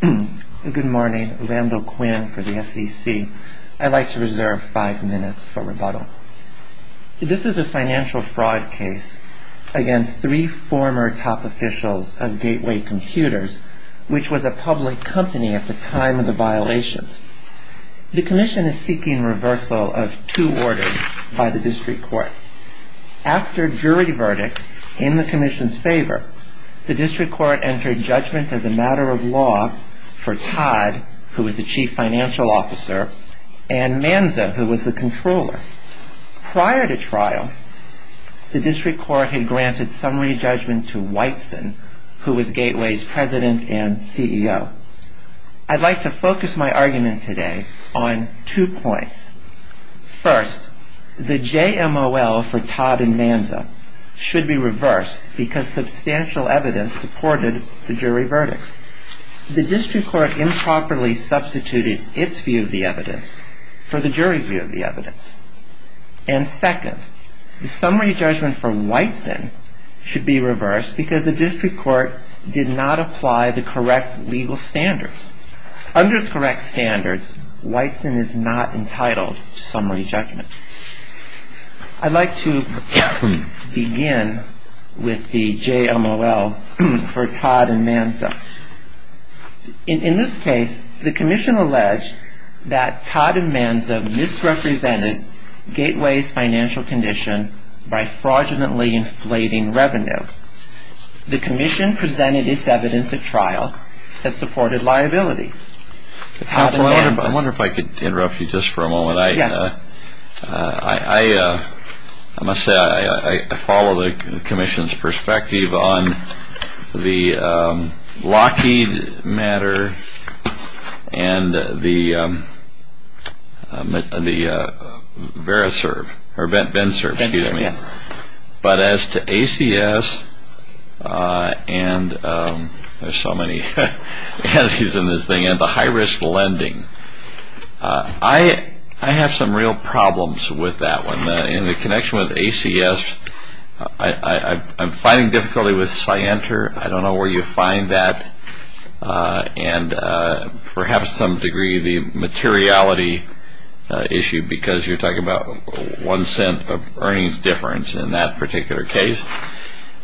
Good morning, Randall Quinn for the SEC. I'd like to reserve five minutes for rebuttal. This is a financial fraud case against three former top officials of Gateway Computers, which was a public company at the time of the violations. The Commission is seeking reversal of two orders by the District Court. After jury verdict in the Commission's favor, the District Court entered judgment as a matter of law for Todd, who was the chief financial officer, and Manza, who was the controller. Prior to trial, the District Court had granted summary judgment to Whiteson, who was Gateway's president and CEO. I'd like to focus my argument today on two points. First, the JMOL for Todd and Manza should be reversed because substantial evidence supported the jury verdicts. The District Court improperly substituted its view of the evidence for the jury's view of the evidence. And second, the summary judgment for Whiteson should be reversed because the District Court did not apply the correct legal standards. Under correct standards, Whiteson is not entitled to summary judgment. I'd like to begin with the JMOL for Todd and Manza. In this case, the Commission alleged that Todd and Manza misrepresented Gateway's financial condition by fraudulently inflating revenue. The Commission presented its evidence at trial that supported liability. Counsel, I wonder if I could interrupt you just for a moment. Yes, sir. I must say, I follow the Commission's perspective on the Lockheed matter and the VERISERV, or BENSERV, excuse me. BENSERV, yes. But as to ACS, and there's so many entities in this thing, and the high-risk lending, I have some real problems with that one. In the connection with ACS, I'm finding difficulty with CYENTR. I don't know where you find that, and perhaps to some degree the materiality issue because you're talking about one cent of earnings difference in that particular case.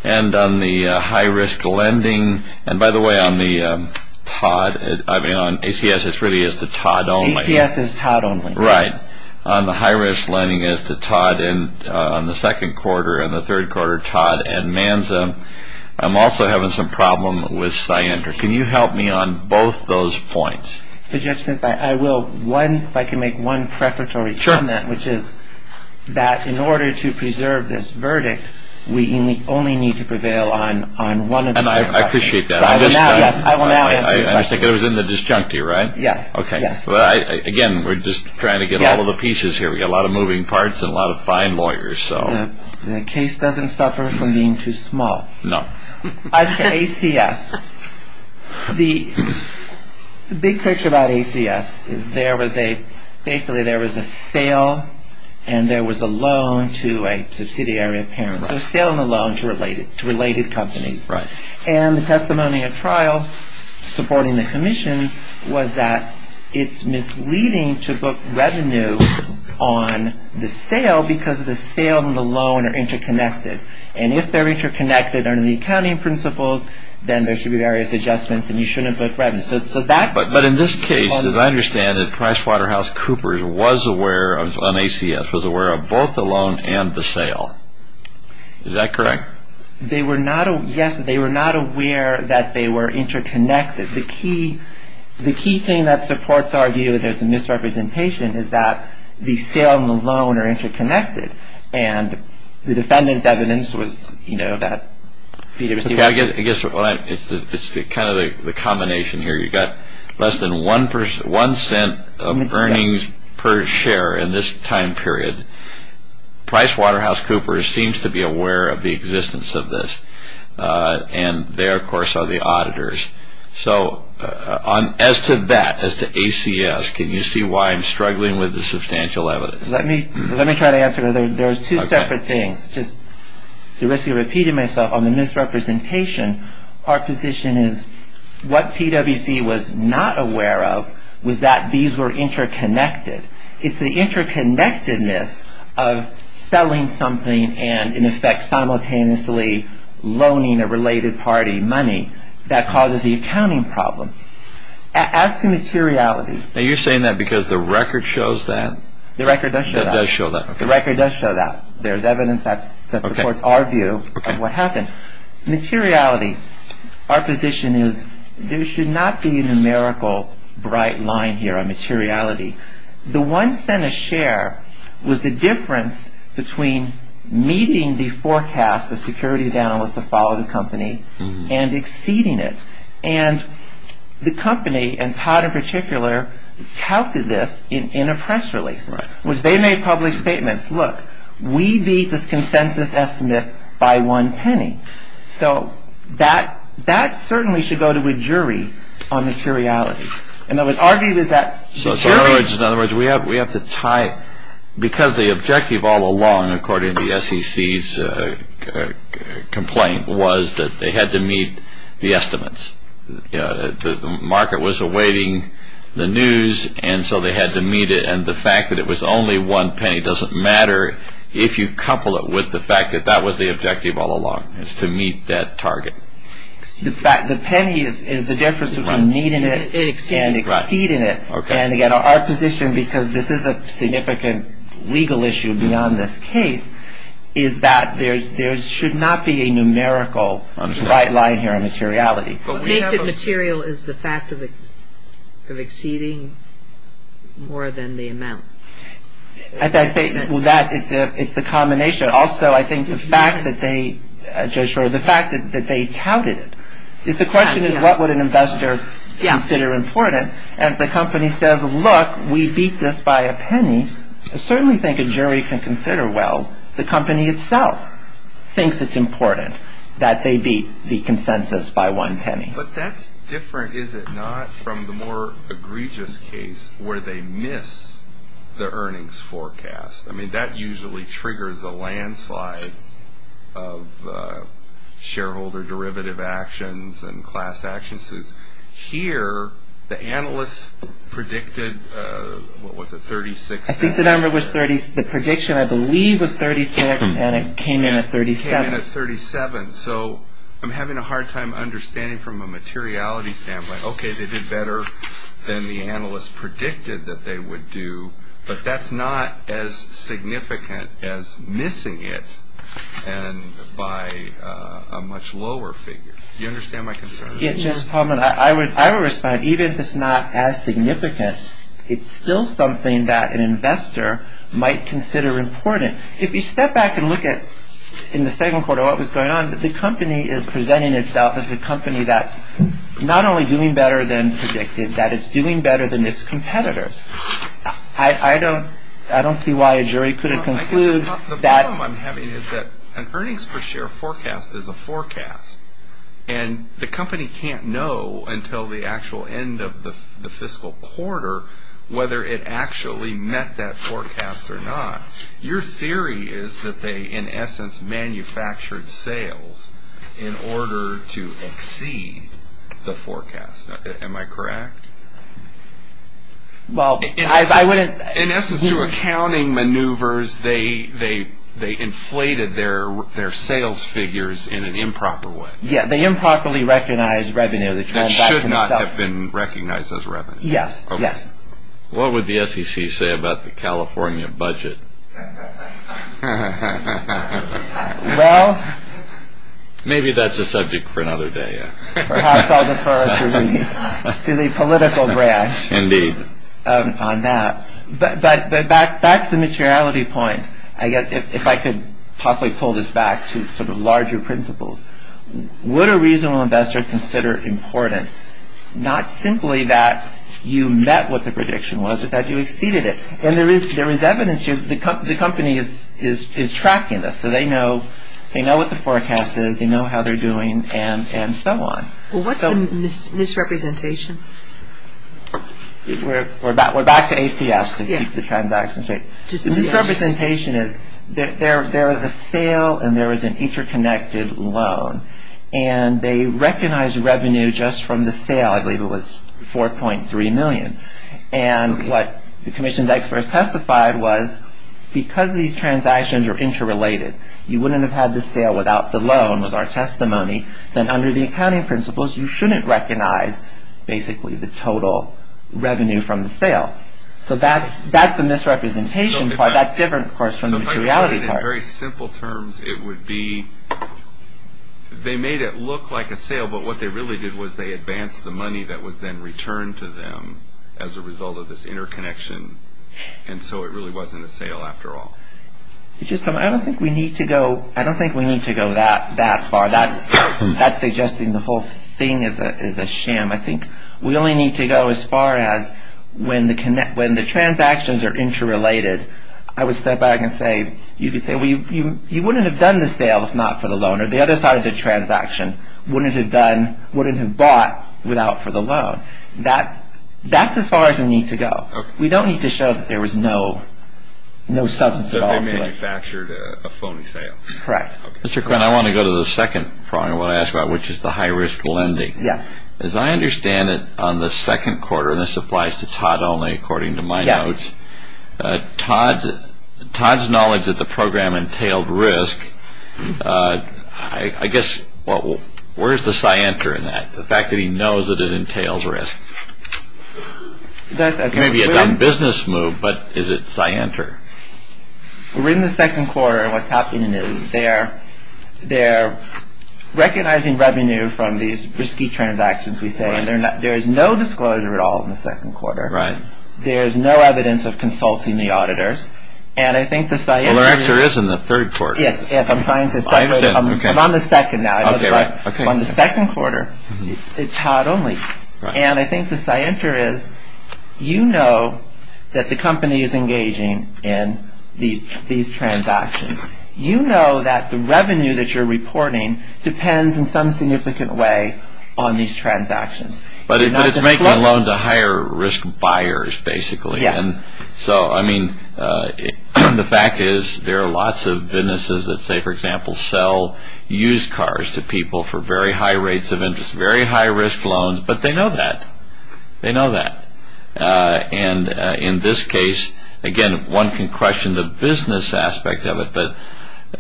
And on the high-risk lending, and by the way, on the Todd, I mean on ACS, it really is the Todd only. ACS is Todd only. Right. On the high-risk lending, it's the Todd on the second quarter, and the third quarter, Todd and MANSA. I'm also having some problem with CYENTR. Can you help me on both those points? Mr. Justice, I will. One, if I can make one preparatory comment, which is that in order to preserve this verdict, we only need to prevail on one of the three questions. And I appreciate that. I will now answer your question. I understand. It was in the disjunctive, right? Yes. Okay. Again, we're just trying to get all of the pieces here. We've got a lot of moving parts and a lot of fine lawyers. The case doesn't suffer from being too small. No. As for ACS, the big picture about ACS is basically there was a sale and there was a loan to a subsidiary of parents. Right. So a sale and a loan to related companies. Right. And the testimony of trial supporting the commission was that it's misleading to book revenue on the sale because the sale and the loan are interconnected. And if they're interconnected under the accounting principles, then there should be various adjustments and you shouldn't book revenue. But in this case, as I understand it, PricewaterhouseCoopers was aware on ACS, was aware of both the loan and the sale. Is that correct? Yes. They were not aware that they were interconnected. The key thing that supports our view that there's a misrepresentation is that the sale and the loan are interconnected. And the defendant's evidence was, you know, that he received. I guess it's kind of the combination here. You got less than one cent of earnings per share in this time period. PricewaterhouseCoopers seems to be aware of the existence of this. And they, of course, are the auditors. So as to that, as to ACS, can you see why I'm struggling with the substantial evidence? Let me try to answer. There are two separate things. Just the risk of repeating myself on the misrepresentation. Our position is what PWC was not aware of was that these were interconnected. It's the interconnectedness of selling something and, in effect, simultaneously loaning a related party money that causes the accounting problem. As to materiality. Now, you're saying that because the record shows that? The record does show that. The record does show that. The record does show that. There's evidence that supports our view of what happened. Materiality. Our position is there should not be a numerical bright line here on materiality. The one cent a share was the difference between meeting the forecast of securities analysts that followed the company and exceeding it. And the company, and Todd in particular, touted this in a press release. They made public statements. Look, we beat this consensus estimate by one penny. So that certainly should go to a jury on materiality. In other words, our view is that the jury. In other words, we have to tie it. Because the objective all along, according to the SEC's complaint, was that they had to meet the estimates. The market was awaiting the news, and so they had to meet it. And the fact that it was only one penny doesn't matter if you couple it with the fact that that was the objective all along, is to meet that target. The penny is the difference between meeting it and exceeding it. And again, our position, because this is a significant legal issue beyond this case, is that there should not be a numerical bright line here on materiality. What makes it material is the fact of exceeding more than the amount. As I say, that is the combination. Also, I think the fact that they, Judge Rowe, the fact that they touted it. The question is, what would an investor consider important? And if the company says, look, we beat this by a penny, I certainly think a jury can consider, well, the company itself thinks it's important that they beat the consensus by one penny. But that's different, is it not, from the more egregious case where they miss the earnings forecast. I mean, that usually triggers a landslide of shareholder derivative actions and class actions. Here, the analysts predicted, what was it, 36 cents? The prediction, I believe, was 36, and it came in at 37. Came in at 37. So I'm having a hard time understanding from a materiality standpoint. Okay, they did better than the analysts predicted that they would do, but that's not as significant as missing it by a much lower figure. Do you understand my concern? I would respond, even if it's not as significant, it's still something that an investor might consider important. If you step back and look at, in the second quarter, what was going on, the company is presenting itself as a company that's not only doing better than predicted, that it's doing better than its competitors. I don't see why a jury couldn't conclude that. The problem I'm having is that an earnings per share forecast is a forecast, and the company can't know until the actual end of the fiscal quarter whether it actually met that forecast or not. Your theory is that they, in essence, manufactured sales in order to exceed the forecast. Am I correct? Well, I wouldn't... In essence, through accounting maneuvers, they inflated their sales figures in an improper way. Yeah, they improperly recognized revenue. That should not have been recognized as revenue. Yes, yes. What would the SEC say about the California budget? Well... Maybe that's a subject for another day. Perhaps I'll defer to the political branch on that. But back to the materiality point, if I could possibly pull this back to sort of larger principles, would a reasonable investor consider important not simply that you met what the prediction was, but that you exceeded it? And there is evidence here. The company is tracking this, so they know what the forecast is, they know how they're doing, and so on. Well, what's the misrepresentation? We're back to ACS to keep the transaction straight. The misrepresentation is there is a sale and there is an interconnected loan. And they recognized revenue just from the sale. I believe it was $4.3 million. And what the commission's experts testified was because these transactions are interrelated, you wouldn't have had the sale without the loan was our testimony. Then under the accounting principles, you shouldn't recognize basically the total revenue from the sale. So that's the misrepresentation part. That's different, of course, from the materiality part. So if I could put it in very simple terms, it would be they made it look like a sale, but what they really did was they advanced the money that was then returned to them as a result of this interconnection. And so it really wasn't a sale after all. I don't think we need to go that far. That's suggesting the whole thing is a sham. I think we only need to go as far as when the transactions are interrelated, I would step back and say you wouldn't have done the sale if not for the loan. Or the other side of the transaction wouldn't have bought without for the loan. That's as far as we need to go. We don't need to show that there was no substance at all to it. They manufactured a phony sale. Correct. Mr. Quinn, I want to go to the second part of what I asked about, which is the high-risk lending. Yes. As I understand it on the second quarter, and this applies to Todd only according to my notes, Todd's knowledge that the program entailed risk, I guess, where's the scienter in that, the fact that he knows that it entails risk? Maybe a non-business move, but is it scienter? We're in the second quarter, and what's happening is they're recognizing revenue from these risky transactions, we say, and there's no disclosure at all in the second quarter. Right. There's no evidence of consulting the auditors, and I think the scienter... Well, there actually is in the third quarter. Yes, yes, I'm trying to... I understand, okay. I'm on the second now. Okay, right. On the second quarter, it's Todd only, and I think the scienter is, you know that the company is engaging in these transactions. You know that the revenue that you're reporting depends in some significant way on these transactions. But it's making a loan to higher-risk buyers, basically. Yes. So, I mean, the fact is there are lots of businesses that say, for example, sell used cars to people for very high rates of interest, very high-risk loans, but they know that. They know that. And in this case, again, one can question the business aspect of it, but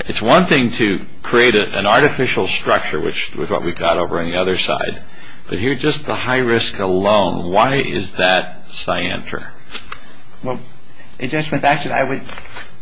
it's one thing to create an artificial structure, which is what we've got over on the other side, but here, just the high-risk alone, why is that scienter? Well, Judge, with that, I would...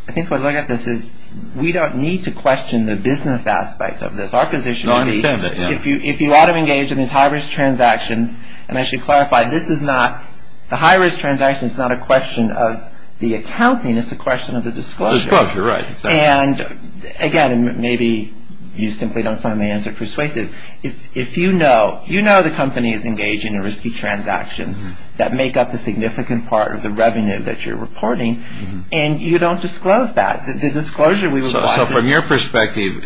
I think when I look at this is we don't need to question the business aspect of this. Our position would be... No, I understand that, yeah. If you ought to engage in these high-risk transactions, and I should clarify, this is not... The high-risk transaction is not a question of the accounting. It's a question of the disclosure. Disclosure, right. And, again, maybe you simply don't find my answer persuasive. If you know, you know the company is engaging in risky transactions that make up a significant part of the revenue that you're reporting, and you don't disclose that. The disclosure we would want to... So from your perspective,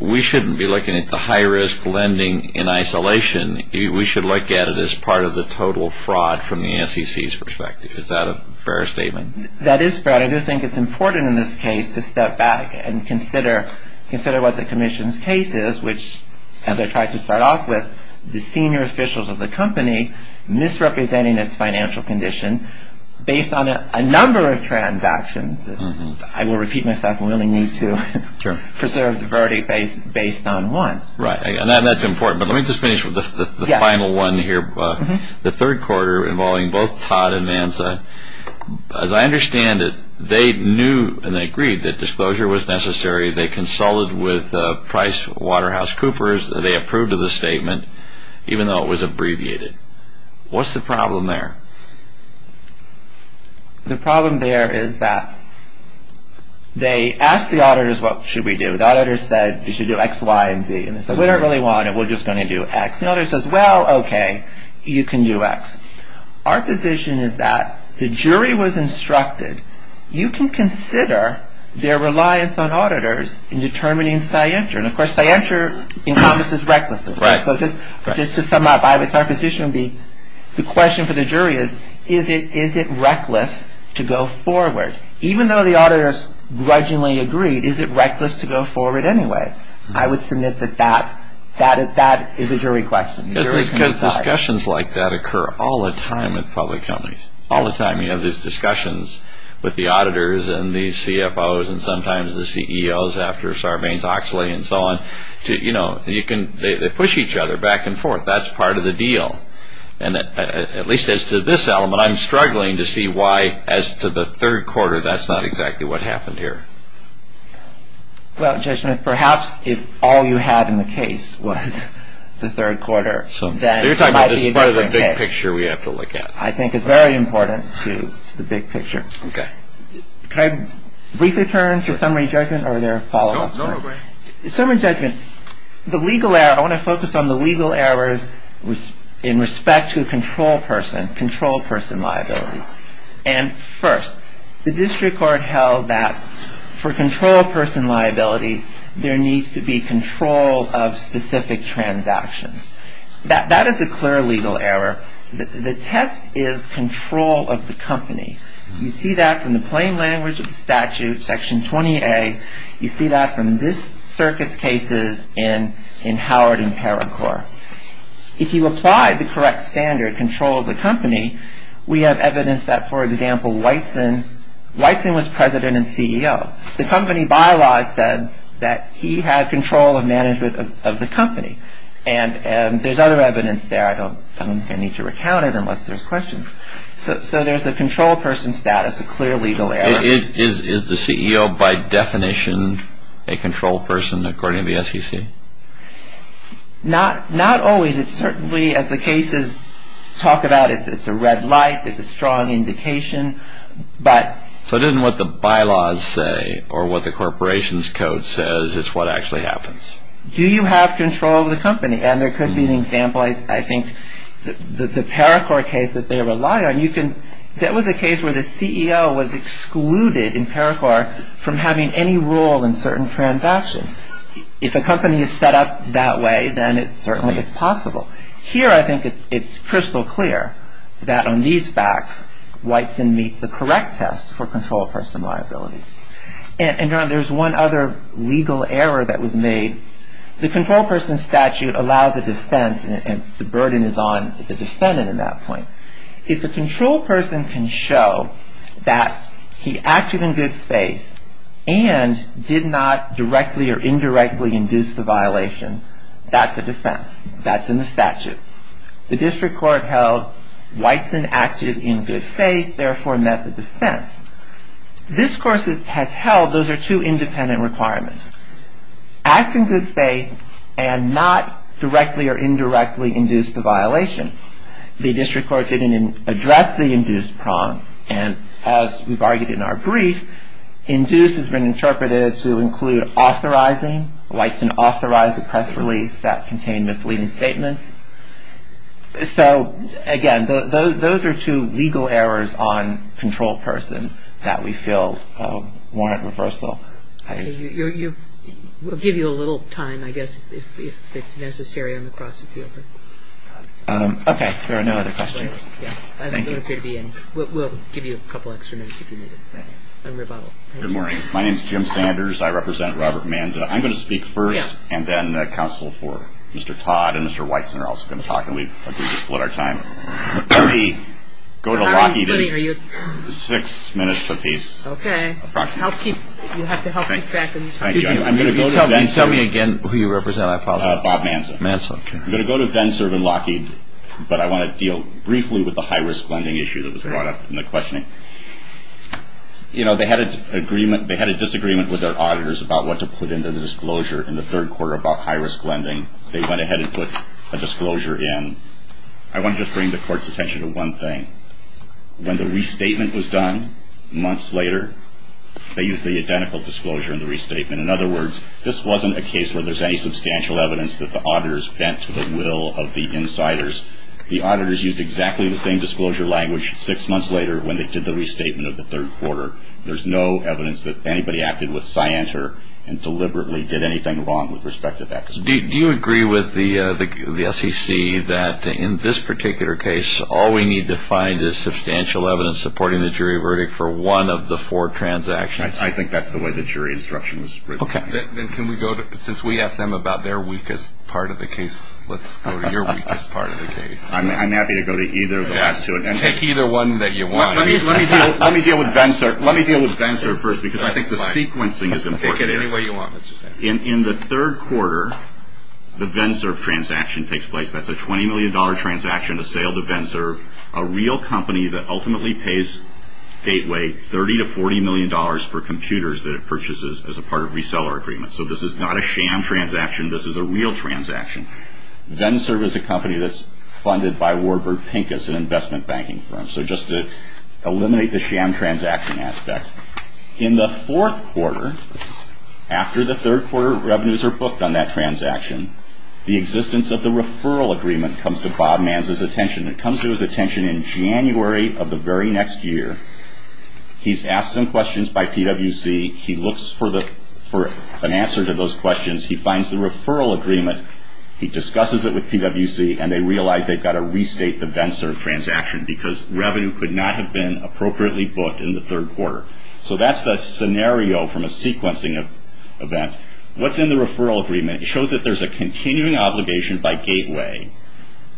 we shouldn't be looking at the high-risk lending in isolation. We should look at it as part of the total fraud from the SEC's perspective. Is that a fair statement? That is fair. I do think it's important in this case to step back and consider what the commission's case is, which, as I tried to start off with, the senior officials of the company misrepresenting its financial condition based on a number of transactions. I will repeat myself. We only need to preserve the verdict based on one. Right. And that's important. But let me just finish with the final one here. The third quarter involving both Todd and Manza, as I understand it, they knew and they agreed that disclosure was necessary. They consulted with PricewaterhouseCoopers. They approved of the statement, even though it was abbreviated. What's the problem there? The problem there is that they asked the auditors, what should we do? The auditors said, you should do X, Y, and Z. And they said, we don't really want it. We're just going to do X. The auditor says, well, okay, you can do X. Our position is that the jury was instructed, you can consider their reliance on auditors in determining scientia. And, of course, scientia encompasses recklessness. Right. So just to sum up, our position would be, the question for the jury is, is it reckless to go forward? Even though the auditors grudgingly agreed, is it reckless to go forward anyway? I would submit that that is a jury question. Because discussions like that occur all the time with public companies. All the time you have these discussions with the auditors and the CFOs and sometimes the CEOs after Sarbanes-Oxley and so on. They push each other back and forth. That's part of the deal. At least as to this element, I'm struggling to see why, as to the third quarter, that's not exactly what happened here. Well, Judge Smith, perhaps if all you had in the case was the third quarter, then it might be a different case. I'm not sure we have to look at it. I think it's very important to the big picture. Okay. Can I briefly turn to summary judgment or are there follow-ups? No, go ahead. Summary judgment. The legal error, I want to focus on the legal errors in respect to control person, control person liability. And, first, the district court held that for control person liability, there needs to be control of specific transactions. That is a clear legal error. The test is control of the company. You see that from the plain language of the statute, Section 20A. You see that from this circuit's cases and in Howard and Paracore. If you apply the correct standard, control of the company, we have evidence that, for example, Wysen was president and CEO. The company bylaws said that he had control of management of the company and there's other evidence there. I don't think I need to recount it unless there's questions. So there's a control person status, a clear legal error. Is the CEO by definition a control person according to the SEC? Not always. It's certainly, as the cases talk about, it's a red light. It's a strong indication. So it isn't what the bylaws say or what the corporation's code says. It's what actually happens. Do you have control of the company? And there could be an example, I think, the Paracore case that they rely on. That was a case where the CEO was excluded in Paracore from having any role in certain transactions. If a company is set up that way, then certainly it's possible. Here I think it's crystal clear that on these facts, Wysen meets the correct test for control of personal liability. And, John, there's one other legal error that was made. The control person statute allows a defense and the burden is on the defendant in that point. If the control person can show that he acted in good faith and did not directly or indirectly induce the violation, that's a defense. That's in the statute. The district court held Wysen acted in good faith, therefore met the defense. This course has held those are two independent requirements. Act in good faith and not directly or indirectly induce the violation. The district court didn't address the induced prong. And as we've argued in our brief, induced has been interpreted to include authorizing. Wysen authorized a press release that contained misleading statements. So, again, those are two legal errors on control person that we feel warrant reversal. We'll give you a little time, I guess, if it's necessary on the cross appeal. Okay. There are no other questions. I don't appear to be in. We'll give you a couple extra minutes if you need it. Good morning. My name is Jim Sanders. I represent Robert Manza. I'm going to speak first and then counsel for Mr. Todd and Mr. Wysen are also going to talk. And we've split our time. Let me go to Lockheed. Six minutes apiece. Okay. You have to help keep track. Thank you. Can you tell me again who you represent? Bob Manza. Manza. I'm going to go to Denserve and Lockheed, but I want to deal briefly with the high risk lending issue that was brought up in the questioning. You know, they had a disagreement with their auditors about what to put into the disclosure in the third quarter about high risk lending. They went ahead and put a disclosure in. I want to just bring the court's attention to one thing. When the restatement was done months later, they used the identical disclosure in the restatement. In other words, this wasn't a case where there's any substantial evidence that the auditors bent to the will of the insiders. The auditors used exactly the same disclosure language six months later when they did the restatement of the third quarter. There's no evidence that anybody acted with scienter and deliberately did anything wrong with respect to that. Do you agree with the SEC that in this particular case, all we need to find is substantial evidence supporting the jury verdict for one of the four transactions? I think that's the way the jury instruction was written. Okay. Since we asked them about their weakest part of the case, let's go to your weakest part of the case. I'm happy to go to either of the last two. Take either one that you want. Let me deal with Venserve first because I think the sequencing is going to take it in. Work it any way you want. In the third quarter, the Venserve transaction takes place. That's a $20 million transaction, a sale to Venserve, a real company that ultimately pays Gateway $30 to $40 million for computers that it purchases as a part of reseller agreements. So this is not a sham transaction. This is a real transaction. Venserve is a company that's funded by Warburg Pincus, an investment banking firm. So just to eliminate the sham transaction aspect. In the fourth quarter, after the third quarter revenues are booked on that transaction, the existence of the referral agreement comes to Bob Manz's attention. It comes to his attention in January of the very next year. He's asked some questions by PWC. He looks for an answer to those questions. He finds the referral agreement. He discusses it with PWC, and they realize they've got to restate the Venserve transaction because revenue could not have been appropriately booked in the third quarter. So that's the scenario from a sequencing event. What's in the referral agreement? And it shows that there's a continuing obligation by Gateway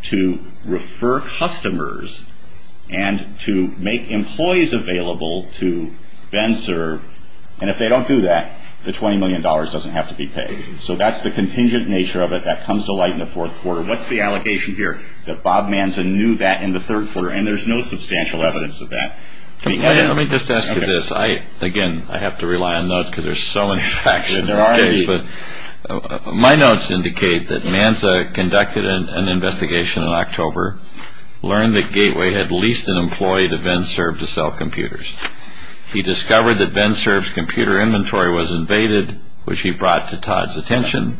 to refer customers and to make employees available to Venserve. And if they don't do that, the $20 million doesn't have to be paid. So that's the contingent nature of it. That comes to light in the fourth quarter. What's the allegation here? That Bob Manz knew that in the third quarter, and there's no substantial evidence of that. Let me just ask you this. Again, I have to rely on notes because there's so much traction. My notes indicate that Manza conducted an investigation in October, learned that Gateway had leased an employee to Venserve to sell computers. He discovered that Venserve's computer inventory was invaded, which he brought to Todd's attention,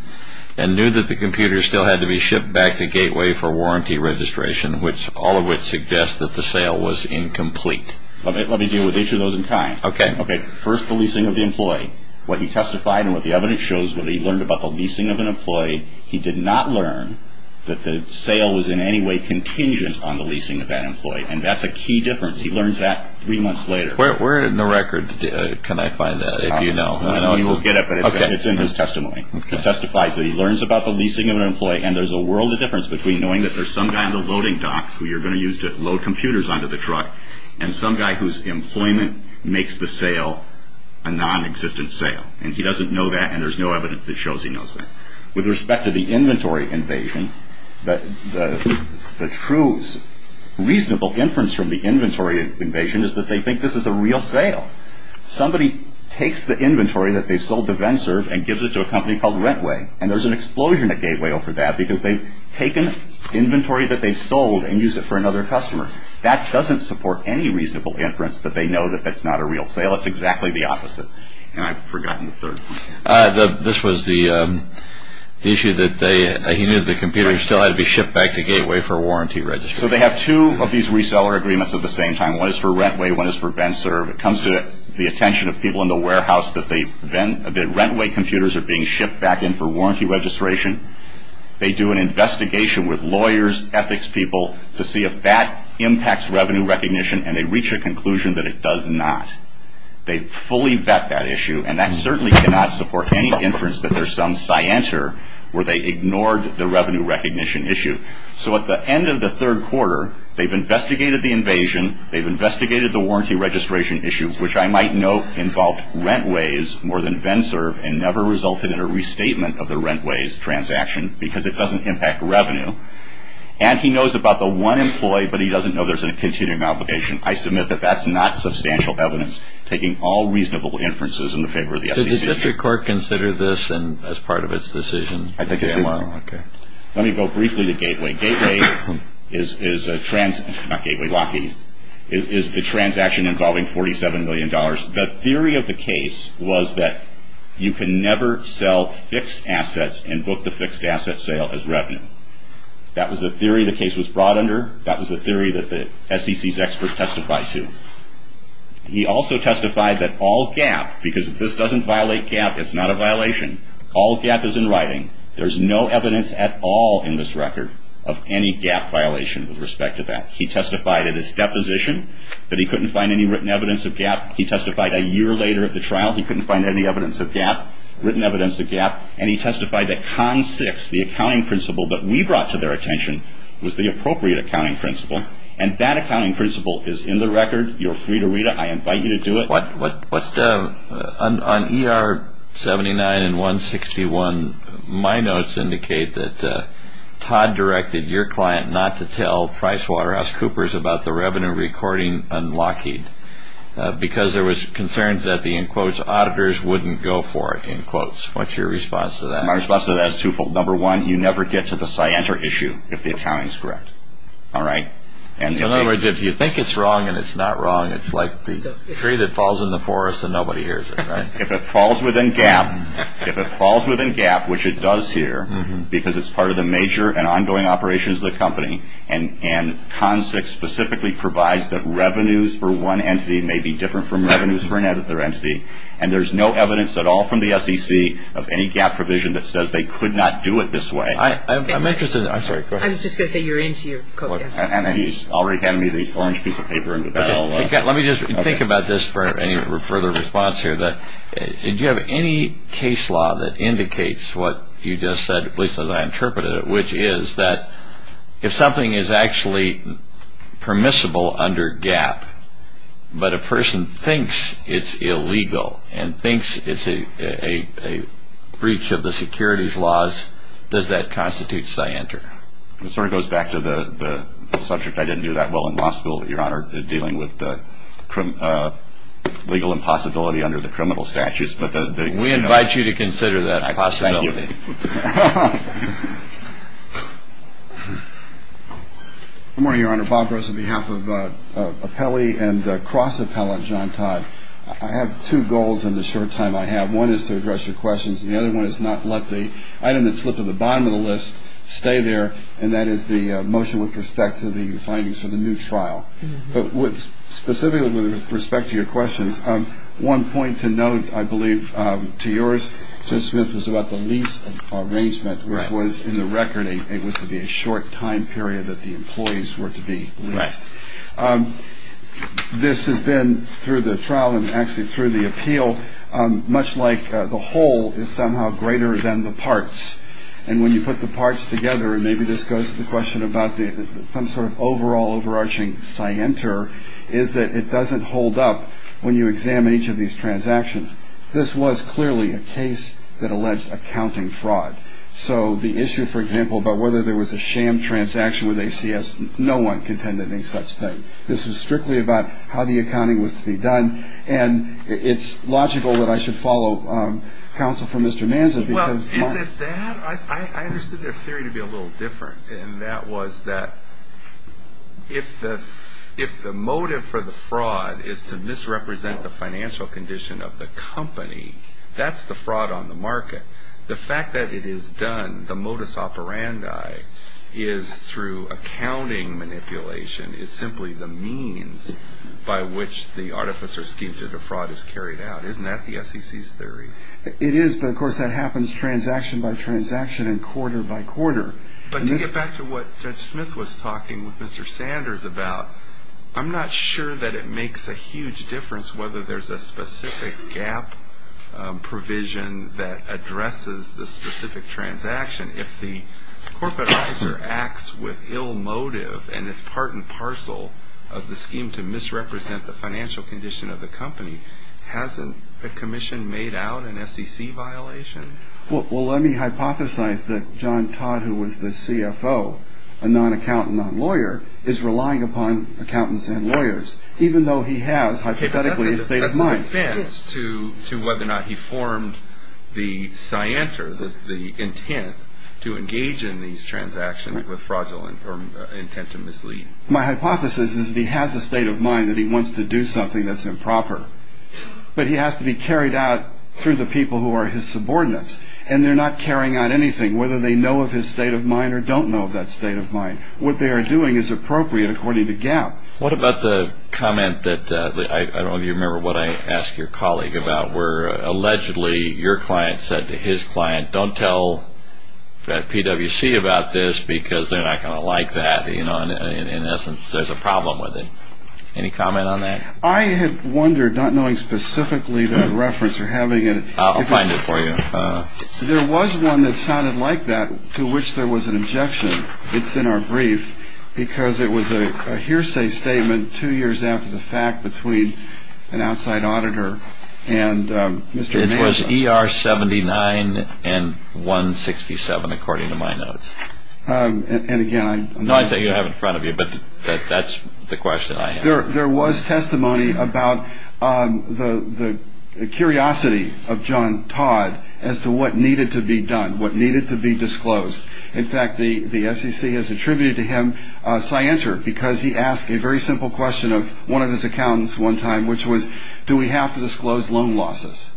and knew that the computer still had to be shipped back to Gateway for warranty registration, which all of which suggests that the sale was incomplete. Let me deal with each of those in kind. Okay. First, the leasing of the employee. What he testified and what the evidence shows, what he learned about the leasing of an employee, he did not learn that the sale was in any way contingent on the leasing of that employee. And that's a key difference. He learns that three months later. Where in the record can I find that, if you know? I know you won't get it, but it's in his testimony. It testifies that he learns about the leasing of an employee, and there's a world of difference between knowing that there's some guy on the loading dock who you're going to use to load computers onto the truck, and some guy whose employment makes the sale a non-existent sale. And he doesn't know that, and there's no evidence that shows he knows that. With respect to the inventory invasion, the true reasonable inference from the inventory invasion is that they think this is a real sale. Somebody takes the inventory that they sold to Venserve and gives it to a company called Rentway, and there's an explosion at Gateway over that, because they've taken inventory that they've sold and used it for another customer. That doesn't support any reasonable inference that they know that that's not a real sale. It's exactly the opposite. And I've forgotten the third one. This was the issue that he knew that the computers still had to be shipped back to Gateway for warranty registration. So they have two of these reseller agreements at the same time. One is for Rentway. One is for Venserve. It comes to the attention of people in the warehouse that Rentway computers are being shipped back in for warranty registration. They do an investigation with lawyers, ethics people, to see if that impacts revenue recognition, and they reach a conclusion that it does not. They fully vet that issue, and that certainly cannot support any inference that there's some scienter where they ignored the revenue recognition issue. So at the end of the third quarter, they've investigated the invasion. They've investigated the warranty registration issue, which I might note involved Rentways more than Venserve and never resulted in a restatement of the Rentways transaction because it doesn't impact revenue. And he knows about the one employee, but he doesn't know there's a continuing obligation. I submit that that's not substantial evidence taking all reasonable inferences in the favor of the SEC. Did the district court consider this as part of its decision? I think it did. Okay. Let me go briefly to Gateway. Gateway is a transaction involving $47 million. The theory of the case was that you can never sell fixed assets and book the fixed asset sale as revenue. That was the theory the case was brought under. That was the theory that the SEC's experts testified to. He also testified that all GAAP, because if this doesn't violate GAAP, it's not a violation. All GAAP is in writing. There's no evidence at all in this record of any GAAP violation with respect to that. He testified at his deposition that he couldn't find any written evidence of GAAP. He testified a year later at the trial he couldn't find any written evidence of GAAP. And he testified that CON 6, the accounting principle that we brought to their attention, was the appropriate accounting principle. And that accounting principle is in the record. You're free to read it. I invite you to do it. On ER 79 and 161, my notes indicate that Todd directed your client not to tell PricewaterhouseCoopers about the revenue recording on Lockheed because there was concerns that the, in quotes, auditors wouldn't go for it, in quotes. What's your response to that? My response to that is twofold. Number one, you never get to the scienter issue if the accounting is correct. All right? In other words, if you think it's wrong and it's not wrong, it's like the tree that falls in the forest and nobody hears it, right? If it falls within GAAP, which it does here because it's part of the major and ongoing operations of the company, and CON 6 specifically provides that revenues for one entity may be different from revenues for another entity, and there's no evidence at all from the SEC of any GAAP provision that says they could not do it this way. I'm interested in that. I'm sorry, go ahead. I was just going to say you're into your code. And he's already handed me the orange piece of paper and the bell. Let me just think about this for any further response here. Do you have any case law that indicates what you just said, at least as I interpreted it, which is that if something is actually permissible under GAAP, but a person thinks it's illegal and thinks it's a breach of the securities laws, does that constitute scienter? It sort of goes back to the subject. I didn't do that well in law school, Your Honor, dealing with the legal impossibility under the criminal statutes. We invite you to consider that possibility. Thank you. Good morning, Your Honor. Bob Gross on behalf of appellee and cross-appellant John Todd. I have two goals in the short time I have. One is to address your questions. The other one is not let the item that slipped to the bottom of the list stay there, and that is the motion with respect to the findings for the new trial. But specifically with respect to your questions, one point to note, I believe, to yours, Judge Smith, was about the lease arrangement, which was in the record. It was to be a short time period that the employees were to be released. This has been through the trial and actually through the appeal, much like the whole is somehow greater than the parts. And when you put the parts together, and maybe this goes to the question about some sort of overall overarching scienter, is that it doesn't hold up when you examine each of these transactions. This was clearly a case that alleged accounting fraud. So the issue, for example, about whether there was a sham transaction with ACS, no one contended any such thing. This was strictly about how the accounting was to be done. And it's logical that I should follow counsel for Mr. Manza. Well, is it that? I understood their theory to be a little different, and that was that if the motive for the fraud is to misrepresent the financial condition of the company, that's the fraud on the market. The fact that it is done, the modus operandi, is through accounting manipulation, is simply the means by which the artifice or scheme to the fraud is carried out. Isn't that the SEC's theory? It is, but of course that happens transaction by transaction and quarter by quarter. But to get back to what Judge Smith was talking with Mr. Sanders about, I'm not sure that it makes a huge difference whether there's a specific gap provision that addresses the specific transaction. If the corporate officer acts with ill motive, and it's part and parcel of the scheme to misrepresent the financial condition of the company, hasn't the commission made out an SEC violation? Well, let me hypothesize that John Todd, who was the CFO, a non-accountant, non-lawyer, is relying upon accountants and lawyers, even though he has, hypothetically, a state of mind. That's an offense to whether or not he formed the scienter, the intent to engage in these transactions with fraudulent or intent to mislead. My hypothesis is that he has a state of mind that he wants to do something that's improper. But he has to be carried out through the people who are his subordinates, and they're not carrying out anything, whether they know of his state of mind or don't know of that state of mind. What they are doing is appropriate according to Gap. What about the comment that, I don't know if you remember what I asked your colleague about, where allegedly your client said to his client, don't tell PwC about this because they're not going to like that. In essence, there's a problem with it. Any comment on that? I had wondered, not knowing specifically the reference or having it. I'll find it for you. There was one that sounded like that to which there was an objection. It's in our brief, because it was a hearsay statement two years after the fact between an outside auditor and Mr. Manzo. It was ER 79 and 167, according to my notes. And again, I'm not sure. No, I'd say you have it in front of you, but that's the question I have. There was testimony about the curiosity of John Todd as to what needed to be done, what needed to be disclosed. In fact, the SEC has attributed to him scienter because he asked a very simple question of one of his accountants one time, which was, do we have to disclose loan losses?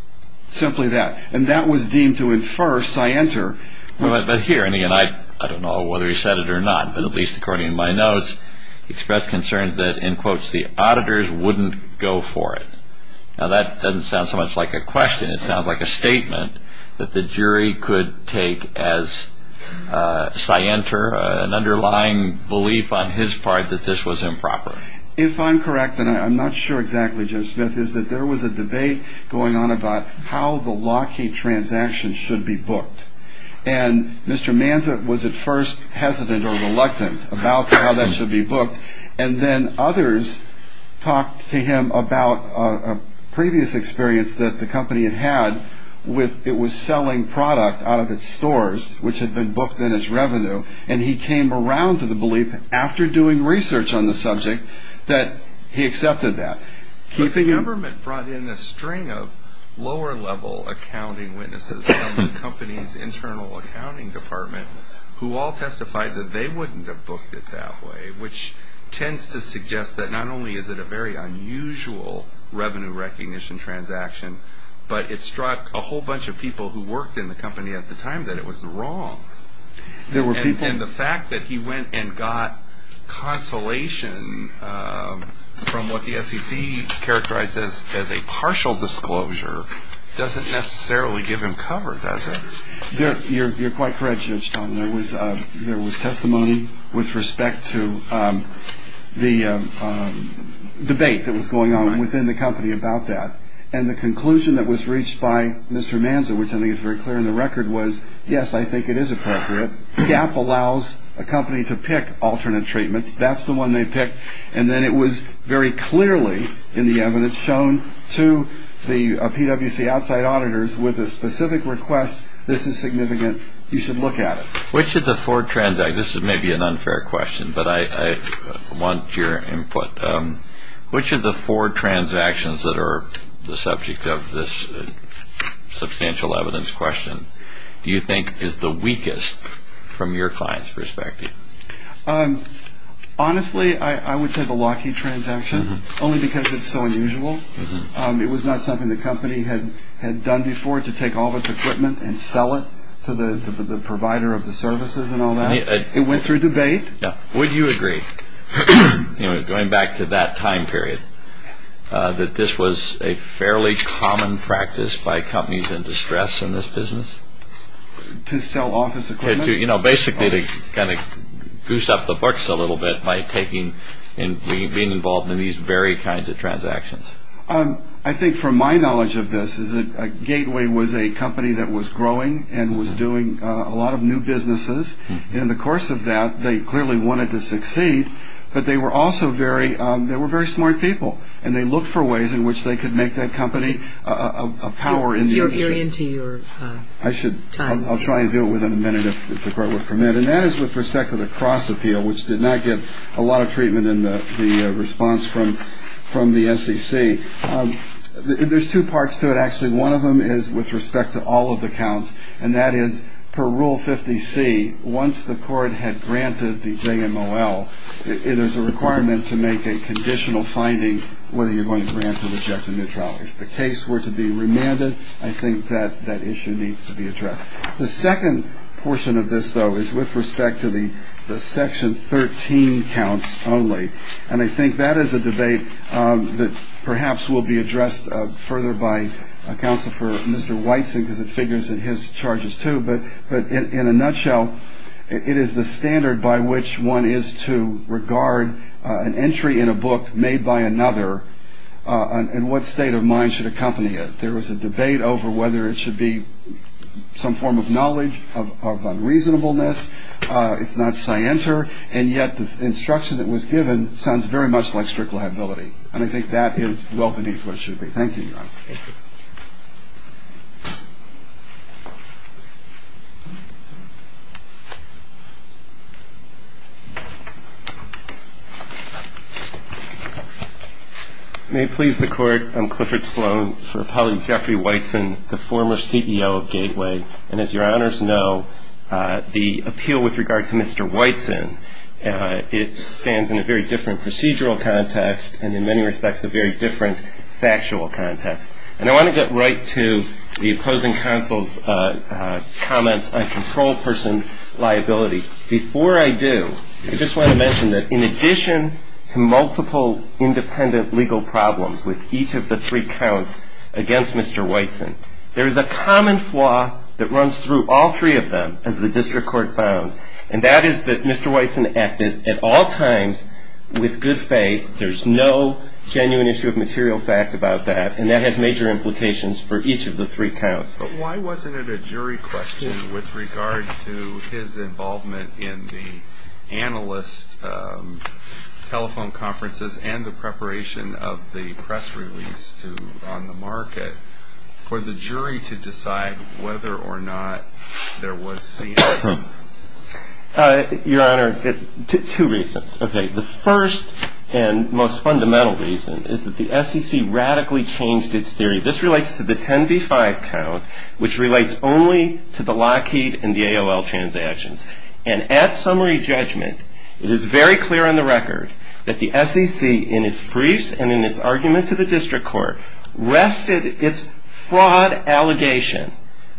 Simply that. And that was deemed to infer scienter. But here, and again, I don't know whether he said it or not, but at least according to my notes, he expressed concern that, in quotes, the auditors wouldn't go for it. Now, that doesn't sound so much like a question. It sounds like a statement that the jury could take as scienter, an underlying belief on his part that this was improper. If I'm correct, and I'm not sure exactly, Jim Smith, is that there was a debate going on about how the Lockheed transaction should be booked. And Mr. Manza was at first hesitant or reluctant about how that should be booked, and then others talked to him about a previous experience that the company had had with it was selling product out of its stores, which had been booked then as revenue, and he came around to the belief, after doing research on the subject, that he accepted that. But the government brought in a string of lower-level accounting witnesses from the company's internal accounting department who all testified that they wouldn't have booked it that way, which tends to suggest that not only is it a very unusual revenue recognition transaction, but it struck a whole bunch of people who worked in the company at the time that it was wrong. And the fact that he went and got consolation from what the SEC characterized as a partial disclosure doesn't necessarily give him cover, does it? You're quite correct, Judge Tom. There was testimony with respect to the debate that was going on within the company about that. And the conclusion that was reached by Mr. Manza, which I think is very clear in the record, was, yes, I think it is appropriate. GAAP allows a company to pick alternate treatments. That's the one they picked. And then it was very clearly in the evidence shown to the PWC outside auditors with a specific request, this is significant, you should look at it. Which of the four transactions – this may be an unfair question, but I want your input – which of the four transactions that are the subject of this substantial evidence question do you think is the weakest from your client's perspective? Honestly, I would say the Lockheed transaction, only because it's so unusual. It was not something the company had done before to take all of its equipment and sell it to the provider of the services and all that. It went through debate. Would you agree, going back to that time period, that this was a fairly common practice by companies in distress in this business? To sell office equipment? Basically to kind of goose up the books a little bit by being involved in these very kinds of transactions. I think from my knowledge of this is that Gateway was a company that was growing and was doing a lot of new businesses. And in the course of that, they clearly wanted to succeed. But they were also very smart people, and they looked for ways in which they could make that company a power in the agency. You're into your time. I'll try and do it within a minute, if the Court would permit. And that is with respect to the cross-appeal, which did not get a lot of treatment in the response from the SEC. There's two parts to it, actually. One of them is with respect to all of the counts, and that is per Rule 50C, once the Court had granted the JMOL, it is a requirement to make a conditional finding whether you're going to grant or reject a new trial. If the case were to be remanded, I think that that issue needs to be addressed. The second portion of this, though, is with respect to the Section 13 counts only, and I think that is a debate that perhaps will be addressed further by Counselor for Mr. Weitzen because it figures in his charges, too. But in a nutshell, it is the standard by which one is to regard an entry in a book made by another and what state of mind should accompany it. There was a debate over whether it should be some form of knowledge of unreasonableness. It's not scienter, and yet this instruction that was given sounds very much like strict liability, and I think that is well beneath what it should be. Thank you, Your Honor. Thank you. May it please the Court, I'm Clifford Sloan for Appellant Jeffrey Weitzen, the former CEO of Gateway, and as Your Honors know, the appeal with regard to Mr. Weitzen, it stands in a very different procedural context and in many respects a very different factual context. And I want to get right to the opposing counsel's comments on control person liability. Before I do, I just want to mention that in addition to multiple independent legal problems with each of the three counts against Mr. Weitzen, there is a common flaw that runs through all three of them as the district court found, and that is that Mr. Weitzen acted at all times with good faith. There's no genuine issue of material fact about that, and that has major implications for each of the three counts. But why wasn't it a jury question with regard to his involvement in the analyst telephone conferences and the preparation of the press release on the market for the jury to decide whether or not there was scene? Your Honor, two reasons. Okay, the first and most fundamental reason is that the SEC radically changed its theory. This relates to the 10 v. 5 count, which relates only to the Lockheed and the AOL transactions. And at summary judgment, it is very clear on the record that the SEC, in its briefs and in its argument to the district court, rested its fraud allegation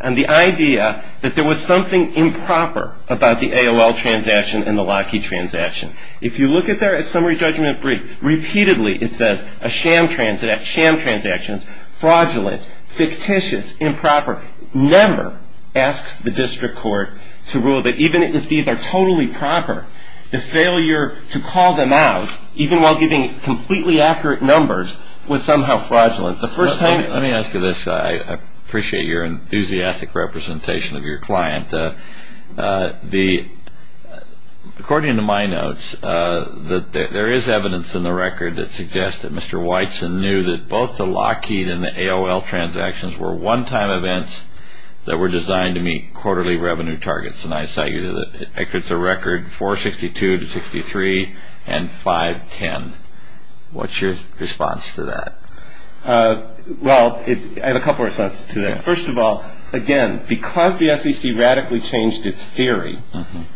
on the idea that there was something improper about the AOL transaction and the Lockheed transaction. If you look at their summary judgment brief, repeatedly it says a sham transaction, fraudulent, fictitious, improper. Never asks the district court to rule that even if these are totally proper, the failure to call them out, even while giving completely accurate numbers, was somehow fraudulent. Let me ask you this. I appreciate your enthusiastic representation of your client. According to my notes, there is evidence in the record that suggests that Mr. Whiteson knew that both the Lockheed and the AOL transactions were one-time events that were designed to meet quarterly revenue targets. And I cite you to the records of record 462 to 63 and 510. What's your response to that? Well, I have a couple of responses to that. First of all, again, because the SEC radically changed its theory,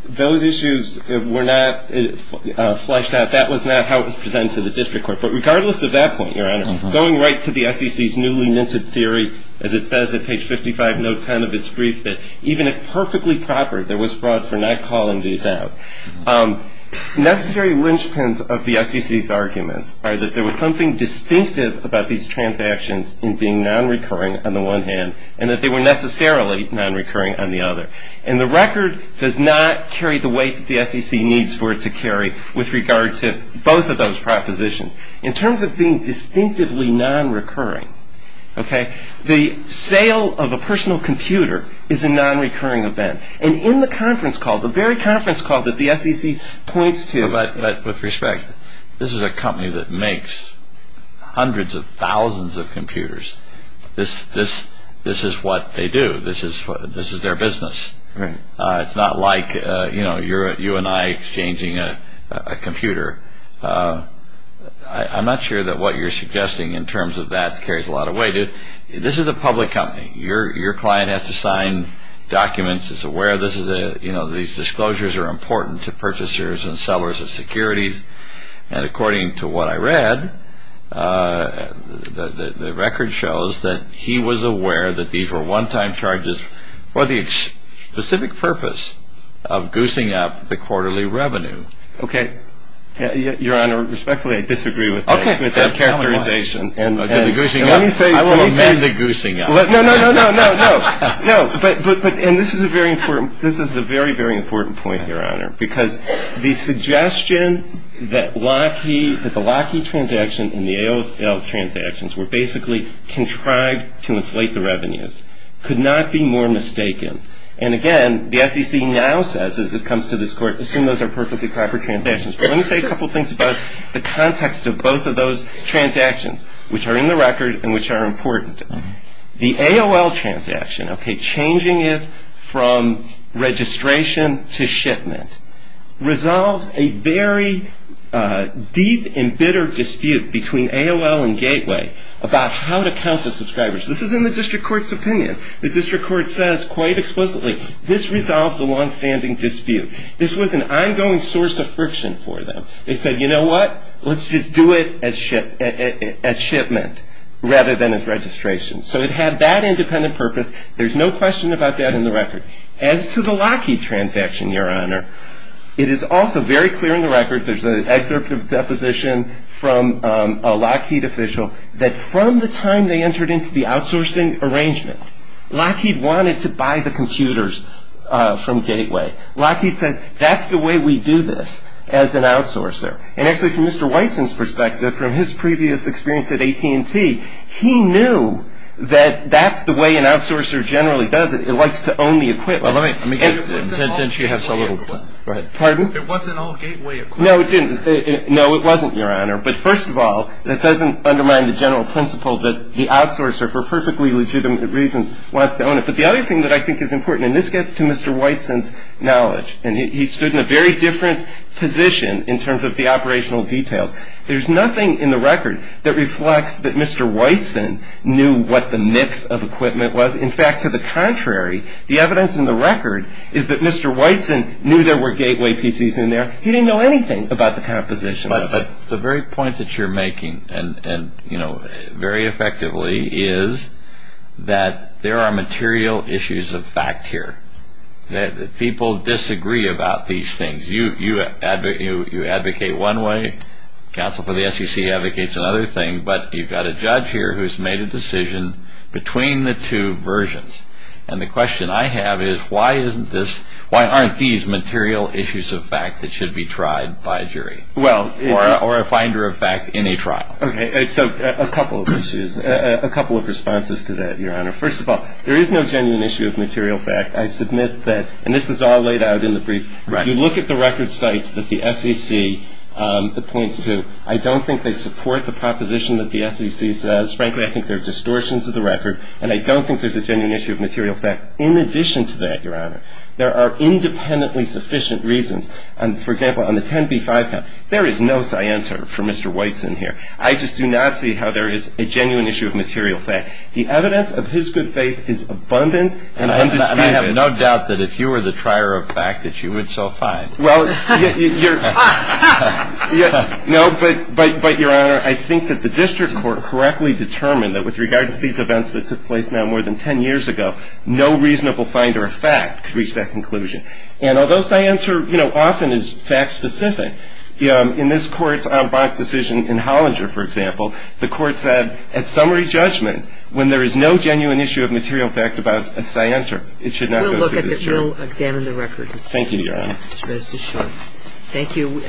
those issues were not fleshed out. That was not how it was presented to the district court. But regardless of that point, Your Honor, going right to the SEC's newly minted theory, as it says at page 55, note 10 of its brief, that even if perfectly proper, there was fraud for not calling these out. Necessary linchpins of the SEC's arguments are that there was something distinctive about these transactions in being nonrecurring on the one hand and that they were necessarily nonrecurring on the other. And the record does not carry the weight that the SEC needs for it to carry with regard to both of those propositions. In terms of being distinctively nonrecurring, the sale of a personal computer is a nonrecurring event. And in the conference call, the very conference call that the SEC points to— But with respect, this is a company that makes hundreds of thousands of computers. This is what they do. This is their business. It's not like you and I exchanging a computer. I'm not sure that what you're suggesting in terms of that carries a lot of weight. This is a public company. Your client has to sign documents. It's aware that these disclosures are important to purchasers and sellers of securities. And according to what I read, the record shows that he was aware that these were one-time charges for the specific purpose of goosing up the quarterly revenue. Okay. Your Honor, respectfully, I disagree with that characterization. And the goosing up— Let me say— I will amend the goosing up. No, no, no, no, no. No, but—and this is a very important—this is a very, very important point, Your Honor, because the suggestion that the Lockheed transaction and the AOL transactions were basically contrived to inflate the revenues could not be more mistaken. And again, the SEC now says, as it comes to this Court, assume those are perfectly proper transactions. But let me say a couple things about the context of both of those transactions, which are in the record and which are important. The AOL transaction, okay, changing it from registration to shipment, resolved a very deep and bitter dispute between AOL and Gateway about how to count the subscribers. This is in the district court's opinion. The district court says quite explicitly, this resolved the longstanding dispute. This was an ongoing source of friction for them. They said, you know what? Let's just do it as shipment rather than as registration. So it had that independent purpose. There's no question about that in the record. As to the Lockheed transaction, Your Honor, it is also very clear in the record—there's an excerpt of a deposition from a Lockheed official— that from the time they entered into the outsourcing arrangement, Lockheed wanted to buy the computers from Gateway. Lockheed said, that's the way we do this as an outsourcer. And actually, from Mr. Whiteson's perspective, from his previous experience at AT&T, he knew that that's the way an outsourcer generally does it. It likes to own the equipment. And since you have so little time— Pardon? It wasn't all Gateway equipment. No, it didn't. No, it wasn't, Your Honor. But first of all, it doesn't undermine the general principle that the outsourcer, for perfectly legitimate reasons, wants to own it. But the other thing that I think is important—and this gets to Mr. Whiteson's knowledge, and he stood in a very different position in terms of the operational details. There's nothing in the record that reflects that Mr. Whiteson knew what the mix of equipment was. In fact, to the contrary, the evidence in the record is that Mr. Whiteson knew there were Gateway PCs in there. He didn't know anything about the composition of it. But the very point that you're making, and very effectively, is that there are material issues of fact here. People disagree about these things. You advocate one way. Counsel for the SEC advocates another thing. But you've got a judge here who's made a decision between the two versions. And the question I have is, why aren't these material issues of fact that should be tried by a jury? Well— Or a finder of fact in a trial. Okay. So a couple of issues. A couple of responses to that, Your Honor. First of all, there is no genuine issue of material fact. I submit that—and this is all laid out in the briefs. Right. You look at the record sites that the SEC points to. I don't think they support the proposition that the SEC says. Frankly, I think they're distortions of the record. And I don't think there's a genuine issue of material fact in addition to that, Your Honor. There are independently sufficient reasons. For example, on the 10b-5 count, there is no scienter for Mr. Weitz in here. I just do not see how there is a genuine issue of material fact. The evidence of his good faith is abundant and undisputed. I have no doubt that if you were the trier of fact that you would so find. Well, you're— No, but, Your Honor, I think that the district court correctly determined that with regard to these events that took place now more than 10 years ago, no reasonable finder of fact could reach that conclusion. And although scienter, you know, often is fact-specific, in this Court's on-box decision in Hollinger, for example, the Court said at summary judgment, when there is no genuine issue of material fact about a scienter, it should not go through the jury. We'll look at it. We'll examine the record. Thank you, Your Honor. Mr. Deschamps. Thank you.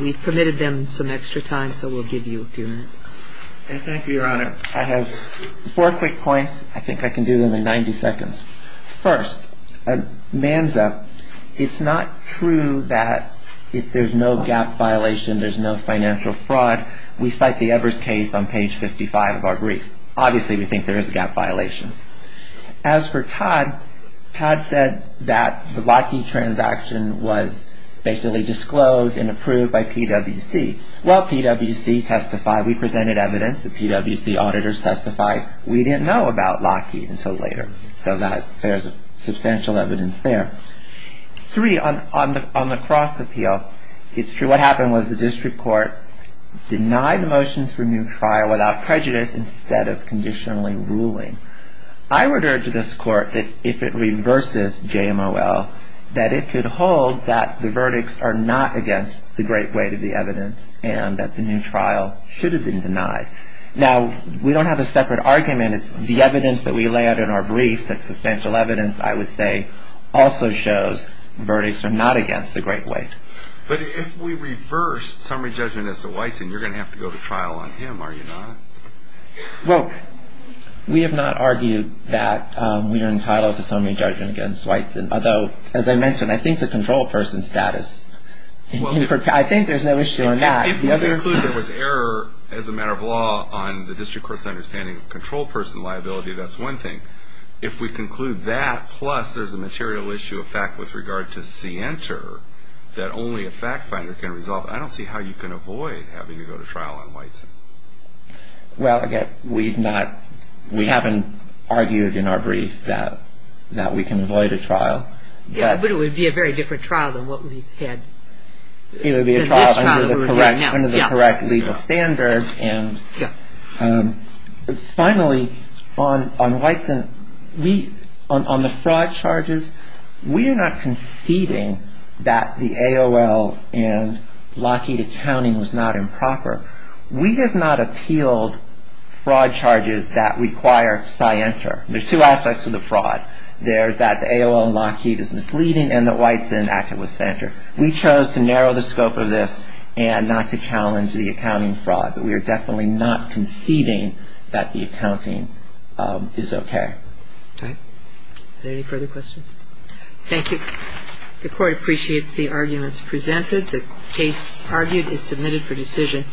We've permitted them some extra time, so we'll give you a few minutes. Thank you, Your Honor. I have four quick points. I think I can do them in 90 seconds. First, Manza, it's not true that if there's no gap violation, there's no financial fraud. We cite the Evers case on page 55 of our brief. Obviously, we think there is a gap violation. As for Todd, Todd said that the Lockheed transaction was basically disclosed and approved by PWC. Well, PWC testified. We presented evidence. The PWC auditors testified. We didn't know about Lockheed until later. So there's substantial evidence there. Three, on the cross appeal, it's true. What happened was the district court denied the motions for new trial without prejudice instead of conditionally ruling. I would urge this court that if it reverses JMOL, that it could hold that the verdicts are not against the great weight of the evidence and that the new trial should have been denied. Now, we don't have a separate argument. It's the evidence that we lay out in our brief, that substantial evidence, I would say, also shows verdicts are not against the great weight. But if we reverse summary judgment as to Wysen, you're going to have to go to trial on him, are you not? Well, we have not argued that we are entitled to summary judgment against Wysen, although, as I mentioned, I think the control person status, I think there's no issue on that. If we conclude there was error as a matter of law on the district court's understanding of control person liability, that's one thing. If we conclude that, plus there's a material issue of fact with regard to CNTR that only a fact finder can resolve, I don't see how you can avoid having to go to trial on Wysen. Well, again, we haven't argued in our brief that we can avoid a trial. But it would be a very different trial than what we've had. It would be a trial under the correct legal standards. Finally, on Wysen, on the fraud charges, we are not conceding that the AOL and Lockheed accounting was not improper. We have not appealed fraud charges that require CNTR. There's two aspects to the fraud. There's that the AOL and Lockheed is misleading and that Wysen acted with banter. We chose to narrow the scope of this and not to challenge the accounting fraud. But we are definitely not conceding that the accounting is okay. Okay. Are there any further questions? Thank you. The court appreciates the arguments presented. The case argued is submitted for decision.